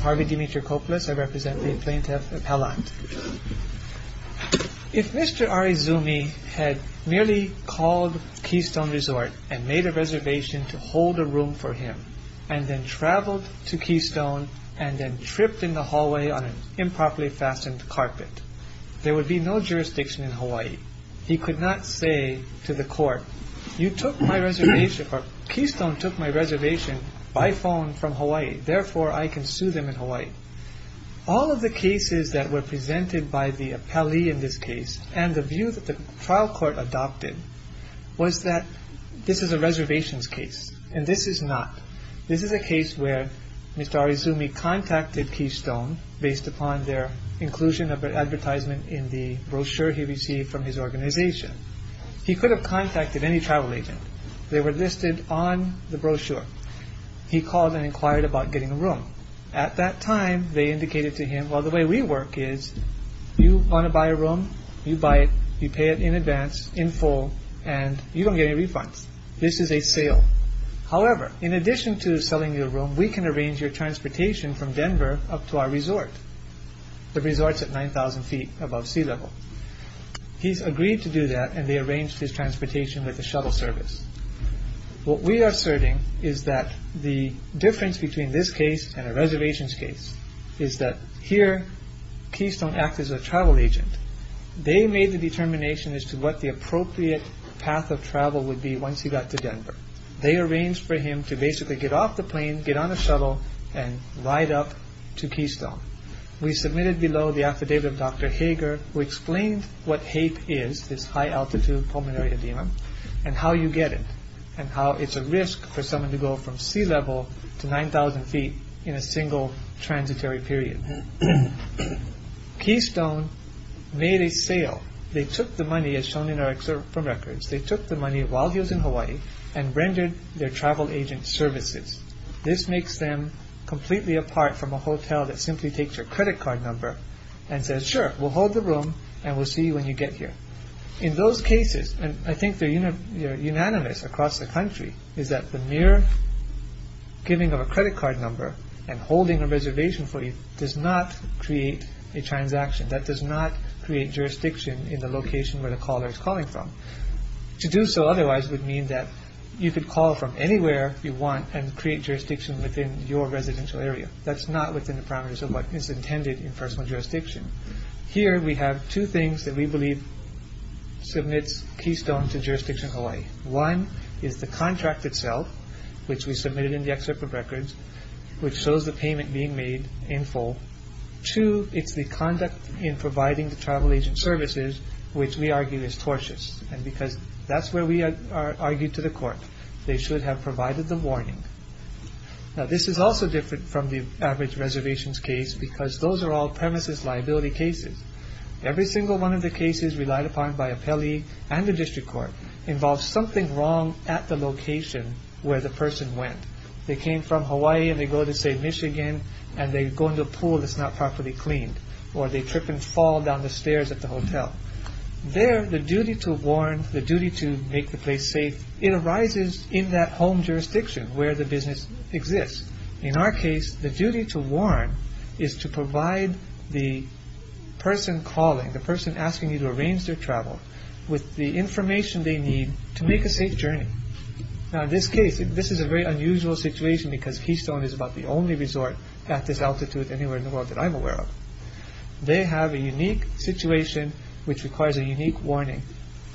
Harvey Dimitrakopoulos, Plaintiff If Mr. Arizumi had merely called Keystone Resort and made a reservation to hold a room for him, and then traveled to Keystone and then tripped in the hallway on an improperly fastened carpet, there would be no jurisdiction in Hawaii. He could not say to the court, Keystone took my reservation by phone from Hawaii, therefore I can sue them in Hawaii. All of the cases that were presented by the appellee in this case, and the view that the trial court adopted, was that this is a reservations case, and this is not. This is a case where Mr. Arizumi contacted Keystone based upon their inclusion of an advertisement in the brochure he received from his organization. He could have contacted any travel agent. They were listed on the brochure. He called and inquired about getting a room. At that time, they indicated to him, well the way we work is, you want to buy a room, you buy it, you pay it in advance, in full, and you don't get any refunds. This is a sale. However, in addition to selling you a room, we can arrange your transportation from Denver up to our resort. The resort's at 9,000 feet above sea level. He's agreed to do that, and they arranged his transportation with the shuttle service. What we are asserting is that the difference between this case and a reservations case is that here, Keystone acted as a travel agent. They made the determination as to what the appropriate path of travel would be once he got to Denver. They arranged for him to basically get off the plane, get on a shuttle, and ride up to Keystone. We submitted below the affidavit of Dr. Hager, who explained what HAPE is, this high-altitude pulmonary edema, and how you get it, and how it's a risk for someone to go from sea level to 9,000 feet in a single transitory period. Keystone made a sale. They took the money, as shown in our excerpt from records, they took the money while he was in Hawaii and rendered their travel agent services. This makes them completely apart from a hotel that simply takes your credit card number and says, sure, we'll hold the room and we'll see you when you get here. In those cases, and I think they're unanimous across the country, is that the mere giving of a credit card number and holding a reservation for you does not create a transaction. That does not create jurisdiction in the location where the caller is calling from. To do so otherwise would mean that you could call from anywhere you want and create jurisdiction within your residential area. That's not within the parameters of what is intended in personal jurisdiction. Here we have two things that we believe submits Keystone to jurisdiction Hawaii. One is the contract itself, which we submitted in the excerpt of records, which shows the payment being made in full. Two, it's the conduct in providing the travel agent services, which we argue is tortious. And because that's where we argue to the court, they should have provided the warning. Now this is also different from the average reservations case because those are all premises liability cases. Every single one of the cases relied upon by appellee and the district court involves something wrong at the location where the person went. They came from Hawaii and they go to, say, Michigan and they go into a pool that's not properly cleaned, or they trip and fall down the stairs at the hotel. There, the duty to warn, the duty to make the place safe, it arises in that home jurisdiction where the business exists. In our case, the duty to warn is to provide the person calling, the person asking you to arrange their travel with the information they need to make a safe journey. Now, in this case, this is a very unusual situation because Keystone is about the only resort at this altitude anywhere in the world that I'm aware of. They have a unique situation which requires a unique warning.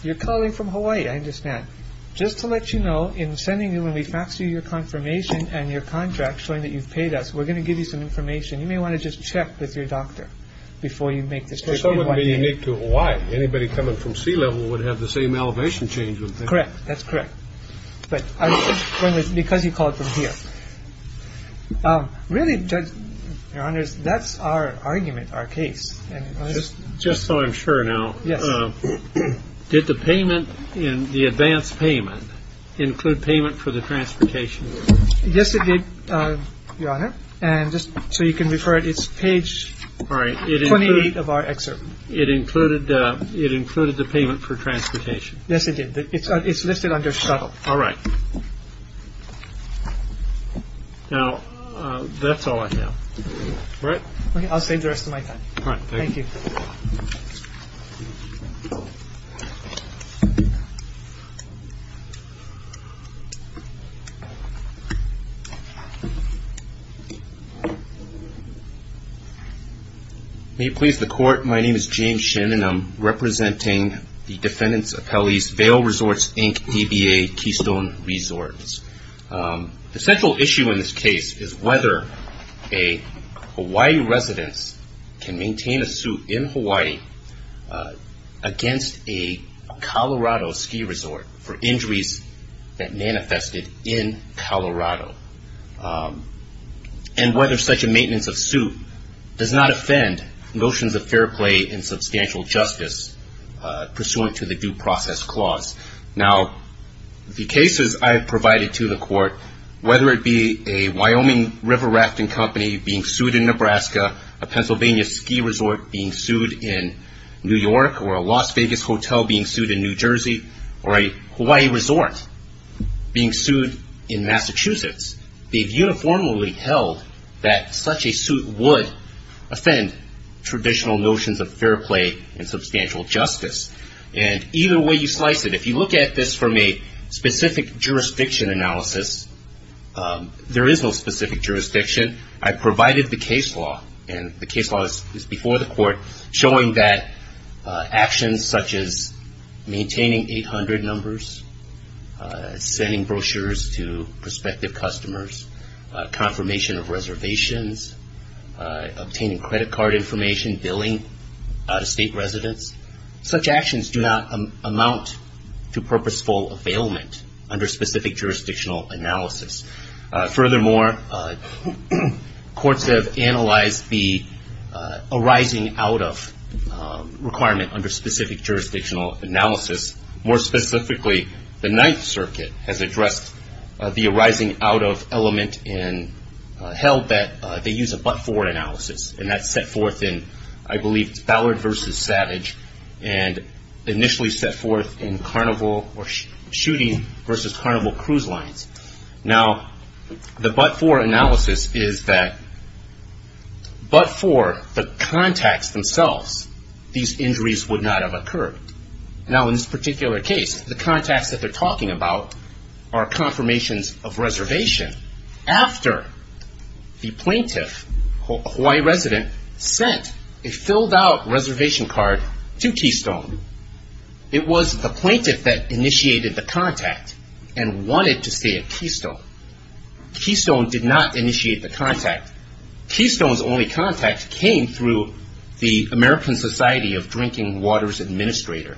You're calling from Hawaii, I understand. Just to let you know, in sending you when we fax you your confirmation and your contract showing that you've paid us, we're going to give you some information. You may want to just check with your doctor before you make this decision. It wouldn't be unique to Hawaii. Anybody coming from sea level would have the same elevation change. Correct. That's correct. But because you called from here. Really, Judge, Your Honor, that's our argument, our case. Just so I'm sure now. Yes. Did the payment, the advance payment, include payment for the transportation? Yes, it did, Your Honor. And just so you can refer it, it's page 28 of our excerpt. It included the payment for transportation. Yes, it did. It's listed under shuttle. All right. Now, that's all I have. All right. I'll save the rest of my time. All right. Thank you. May it please the Court. My name is James Shin, and I'm representing the defendants' appellees, Vail Resorts, Inc., DBA, Keystone Resorts. The central issue in this case is whether a Hawaii resident can maintain a suit in Hawaii against a Colorado ski resort for injuries that manifested in Colorado, and whether such a maintenance of suit does not offend notions of fair play and substantial justice pursuant to the due process clause. Now, the cases I have provided to the Court, whether it be a Wyoming river rafting company being sued in Nebraska, a Pennsylvania ski resort being sued in New York, or a Las Vegas hotel being sued in New Jersey, or a Hawaii resort being sued in Massachusetts, they've uniformly held that such a suit would offend traditional notions of fair play and substantial justice. And either way you slice it, if you look at this from a specific jurisdiction analysis, there is no specific jurisdiction. I provided the case law, and the case law is before the Court, showing that actions such as maintaining 800 numbers, sending brochures to prospective customers, confirmation of reservations, obtaining credit card information, billing out-of-state residents, such actions do not amount to purposeful availment under specific jurisdictional analysis. Furthermore, courts have analyzed the arising-out-of requirement under specific jurisdictional analysis. More specifically, the Ninth Circuit has addressed the arising-out-of element and held that they use a but-for analysis, and that's set forth in, I believe, Ballard v. Savage, and initially set forth in Carnival or Shooting v. Carnival Cruise Lines. Now, the but-for analysis is that but for the contacts themselves, these injuries would not have occurred. Now in this particular case, the contacts that they're talking about are confirmations of reservation after the plaintiff, a Hawaii resident, sent a filled-out reservation card to Keystone. It was the plaintiff that initiated the contact and wanted to stay at Keystone. Keystone did not initiate the contact. Keystone's only contact came through the American Society of Drinking Waters Administrator,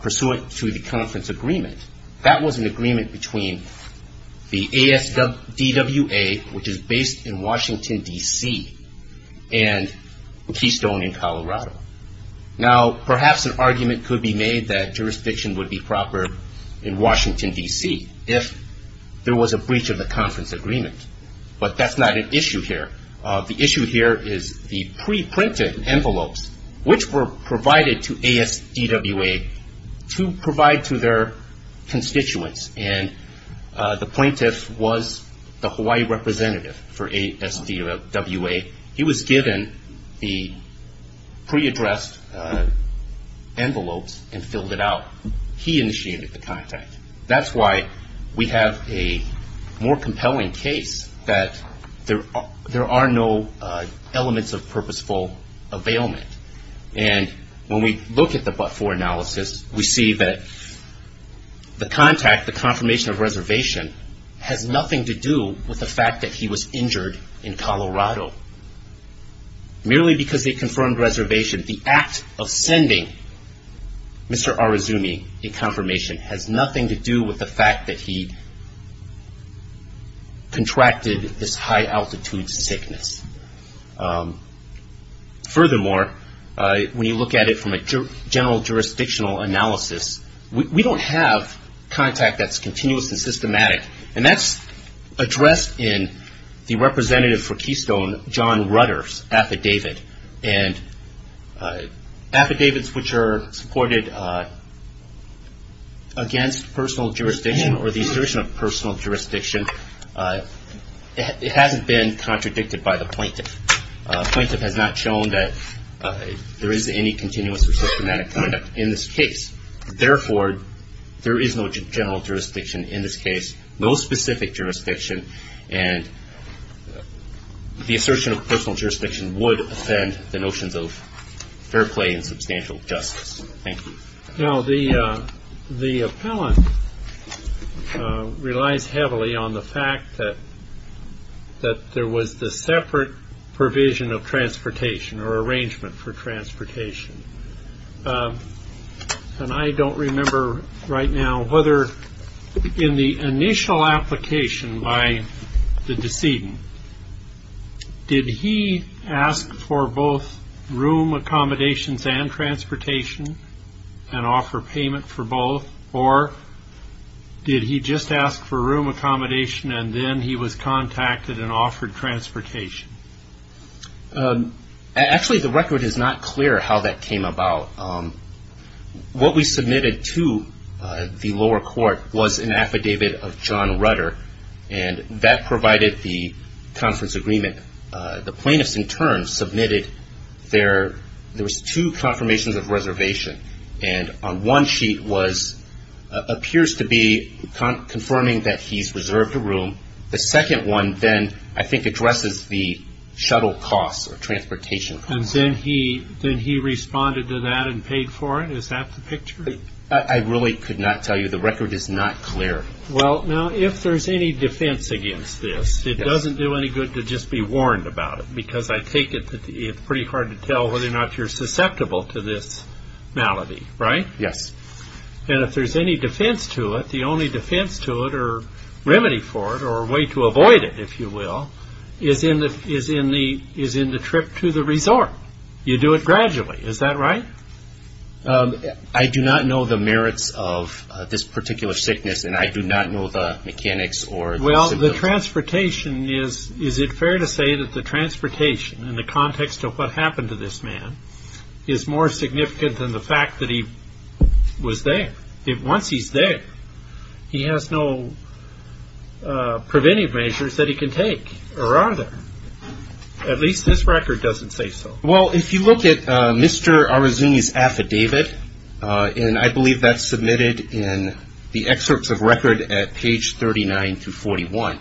pursuant to the conference agreement. That was an agreement between the ASDWA, which is based in Washington, D.C., and Keystone in Colorado. Now, perhaps an argument could be made that jurisdiction would be proper in Washington, D.C., if there was a breach of the conference agreement, but that's not an issue here. The issue here is the pre-printed envelopes, which were provided to ASDWA to provide to their constituents, and the plaintiff was the Hawaii representative for ASDWA. He was given the pre-addressed envelopes and filled it out. He initiated the contact. That's why we have a more compelling case that there are no elements of purposeful availment. And when we look at the but-for analysis, we see that the contact, the confirmation of reservation, has nothing to do with the fact that he was injured in Colorado. Merely because they confirmed reservation, the act of sending Mr. Arazumi a confirmation has nothing to do with the fact that he contracted this high-altitude sickness. Furthermore, when you look at it from a general jurisdictional analysis, we don't have contact that's continuous and systematic, and that's addressed in the representative for Keystone, John Rutter's affidavit. And affidavits which are supported against personal jurisdiction or the assertion of personal jurisdiction, it hasn't been contradicted by the plaintiff. The plaintiff has not shown that there is any continuous or systematic conduct in this case. Therefore, there is no general jurisdiction in this case, no specific jurisdiction, and the assertion of personal jurisdiction would offend the notions of fair play and substantial justice. Thank you. Now, the appellant relies heavily on the fact that there was the separate provision of transportation or arrangement for transportation. And I don't remember right now whether in the initial application by the decedent, did he ask for both room accommodations and transportation and offer payment for both, or did he just ask for room accommodation and then he was contacted and offered transportation? Actually, the record is not clear how that came about. What we submitted to the lower court was an affidavit of John Rutter, and that provided the conference agreement. The plaintiff, in turn, submitted there was two confirmations of reservation, and on one sheet appears to be confirming that he's reserved a room. The second one then, I think, addresses the shuttle costs or transportation costs. And then he responded to that and paid for it? Is that the picture? I really could not tell you. The record is not clear. Well, now, if there's any defense against this, it doesn't do any good to just be warned about it, because I take it that it's pretty hard to tell whether or not you're susceptible to this malady, right? Yes. And if there's any defense to it, the only defense to it or remedy for it or way to avoid it, if you will, is in the trip to the resort. You do it gradually. Is that right? I do not know the merits of this particular sickness, and I do not know the mechanics or the symptoms. Well, the transportation is, is it fair to say that the transportation, in the context of what happened to this man, is more significant than the fact that he was there? Once he's there, he has no preventive measures that he can take or either. At least this record doesn't say so. Well, if you look at Mr. Arazuni's affidavit, and I believe that's submitted in the excerpts of record at page 39-41,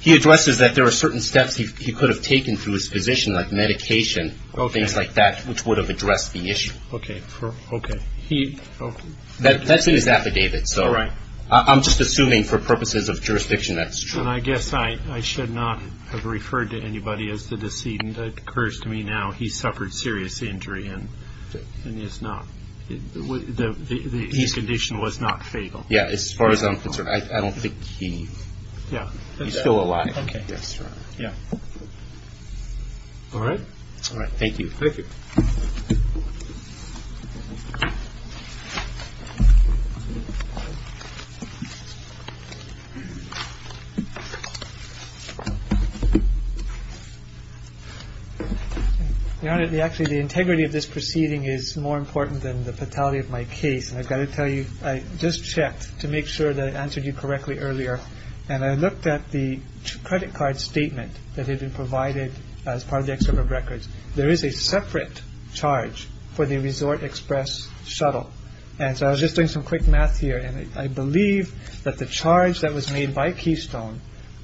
he addresses that there are certain steps he could have taken through his physician, like medication, things like that, which would have addressed the issue. Okay. Okay. That's in his affidavit, so I'm just assuming for purposes of jurisdiction that's true. And I guess I should not have referred to anybody as the decedent. It occurs to me now he suffered serious injury and is not, the condition was not fatal. Yeah, as far as I'm concerned, I don't think he's still alive. Okay. Yeah. All right? All right. Thank you. Thank you. Your Honor, actually the integrity of this proceeding is more important than the fatality of my case. And I've got to tell you, I just checked to make sure that I answered you correctly earlier, and I looked at the credit card statement that had been provided as part of the excerpt of records. There is a separate charge for the resort express shuttle. And so I was just doing some quick math here. And I believe that the charge that was made by Keystone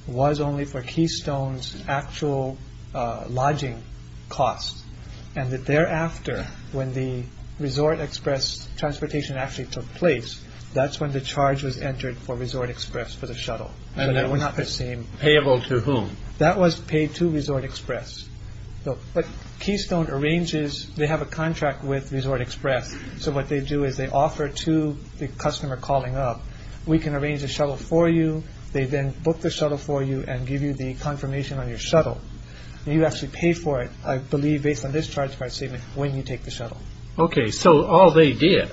was only for Keystone's actual lodging costs. And that thereafter, when the resort express transportation actually took place, that's when the charge was entered for resort express for the shuttle. And they were not the same payable to whom that was paid to resort express. But Keystone arranges they have a contract with resort express. So what they do is they offer to the customer calling up, we can arrange a shuttle for you. They then book the shuttle for you and give you the confirmation on your shuttle. And you actually pay for it, I believe, based on this charge card statement, when you take the shuttle. Okay. So all they did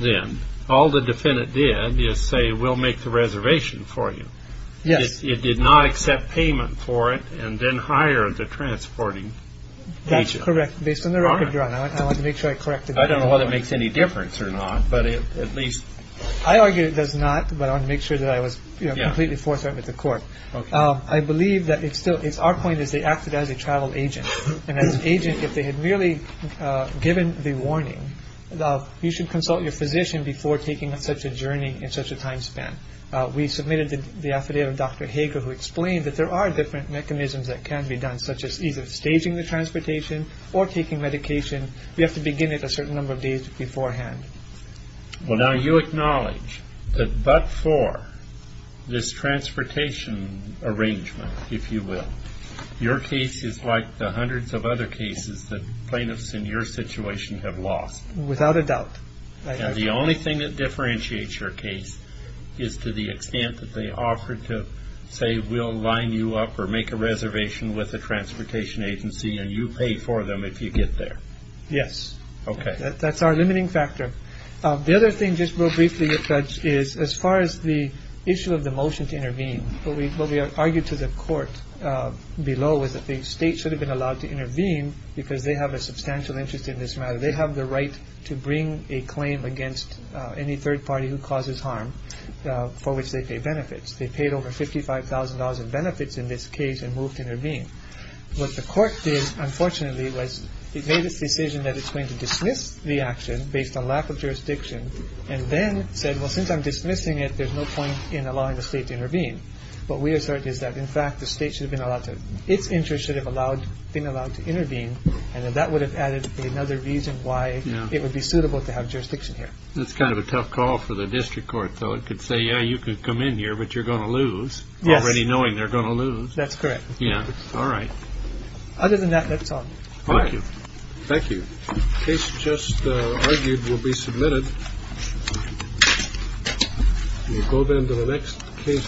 then, all the defendant did is say, we'll make the reservation for you. Yes. It did not accept payment for it and then hire the transporting agent. That's correct. Based on the record, Your Honor. I want to make sure I correct it. I don't know whether it makes any difference or not, but at least. I argue it does not. But I want to make sure that I was completely forthright with the court. I believe that it's still it's our point is they acted as a travel agent. And as an agent, if they had merely given the warning, you should consult your physician before taking such a journey in such a time span. We submitted the affidavit. Dr. Hager, who explained that there are different mechanisms that can be done, such as either staging the transportation or taking medication. We have to begin it a certain number of days beforehand. Well, now, you acknowledge that but for this transportation arrangement, if you will, your case is like the hundreds of other cases that plaintiffs in your situation have lost. Without a doubt. And the only thing that differentiates your case is to the extent that they offered to say, we'll line you up or make a reservation with the transportation agency and you pay for them if you get there. Yes. OK. That's our limiting factor. The other thing, just real briefly, Judge, is as far as the issue of the motion to intervene, what we argued to the court below was that the state should have been allowed to intervene because they have a substantial interest in this matter. They have the right to bring a claim against any third party who causes harm for which they pay benefits. They paid over fifty five thousand dollars in benefits in this case and moved to intervene. What the court did, unfortunately, was it made its decision that it's going to dismiss the action based on lack of jurisdiction and then said, well, since I'm dismissing it, there's no point in allowing the state to intervene. But we assert is that, in fact, the state should have been allowed to. Its interest should have allowed being allowed to intervene. And that would have added another reason why it would be suitable to have jurisdiction here. That's kind of a tough call for the district court. So it could say, yeah, you could come in here, but you're going to lose already knowing they're going to lose. That's correct. Yeah. All right. Other than that, that's all. Thank you. Thank you. Case just argued will be submitted. You go then to the next case.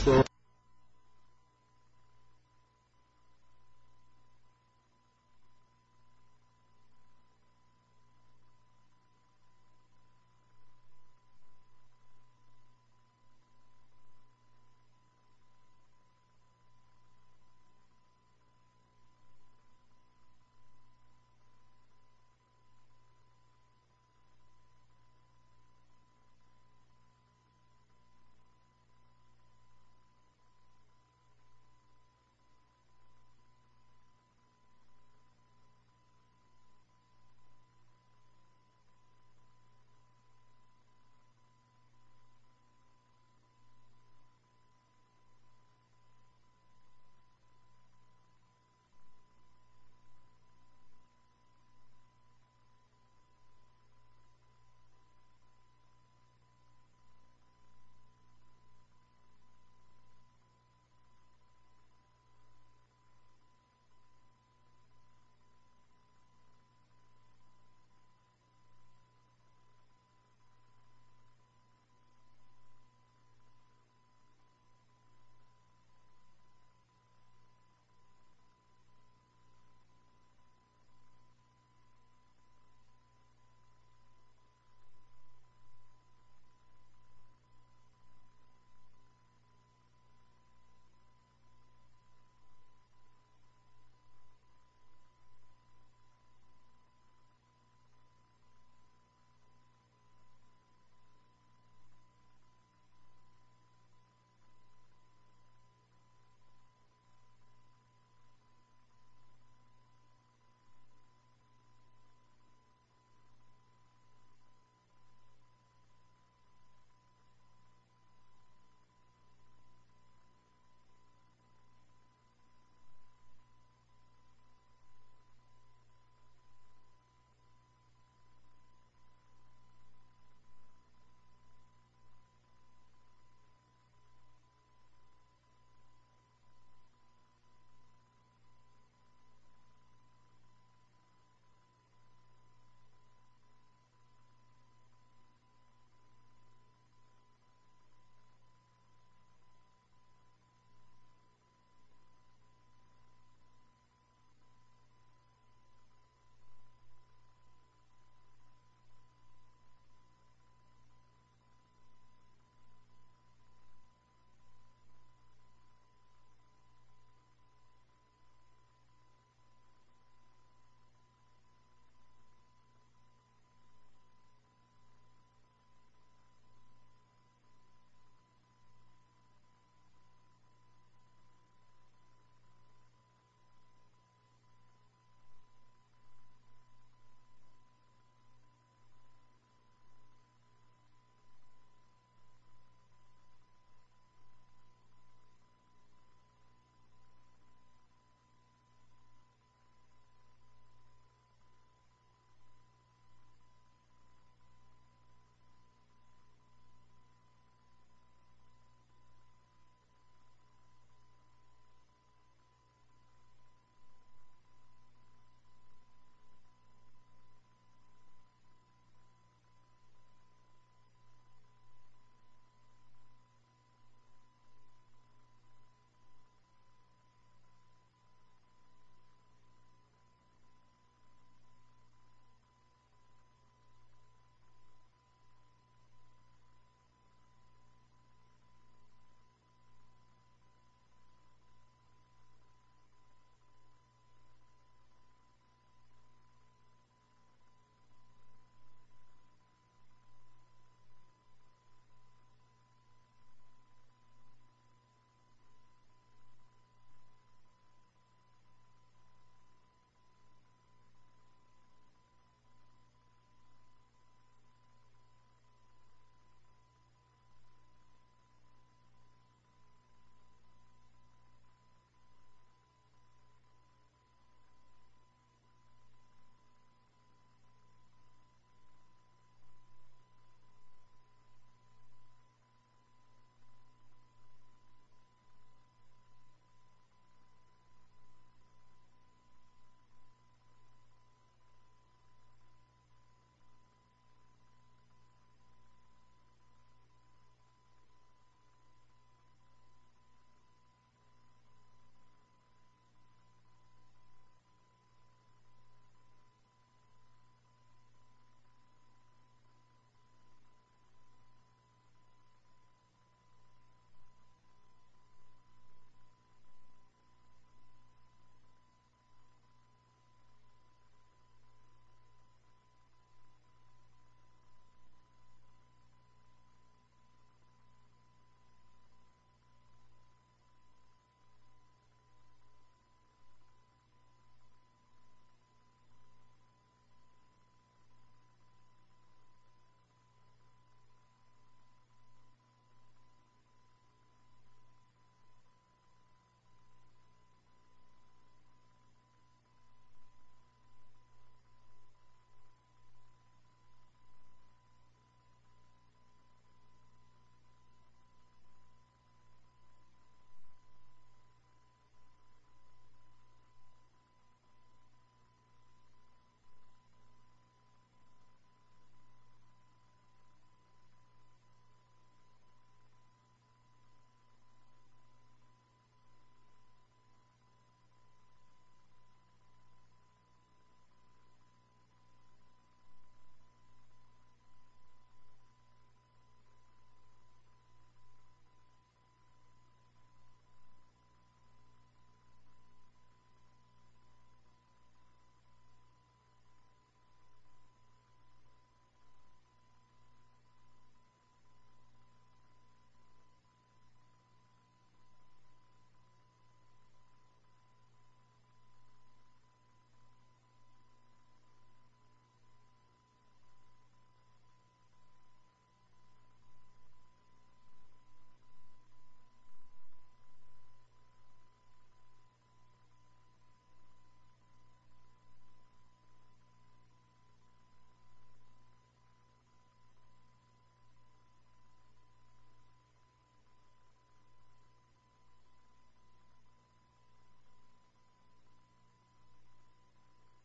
Thank you. Thank you. Thank you. Thank you. Thank you. Thank you. Thank you. Thank you. Thank you. Thank you. Thank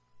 you. Thank you. Thank you.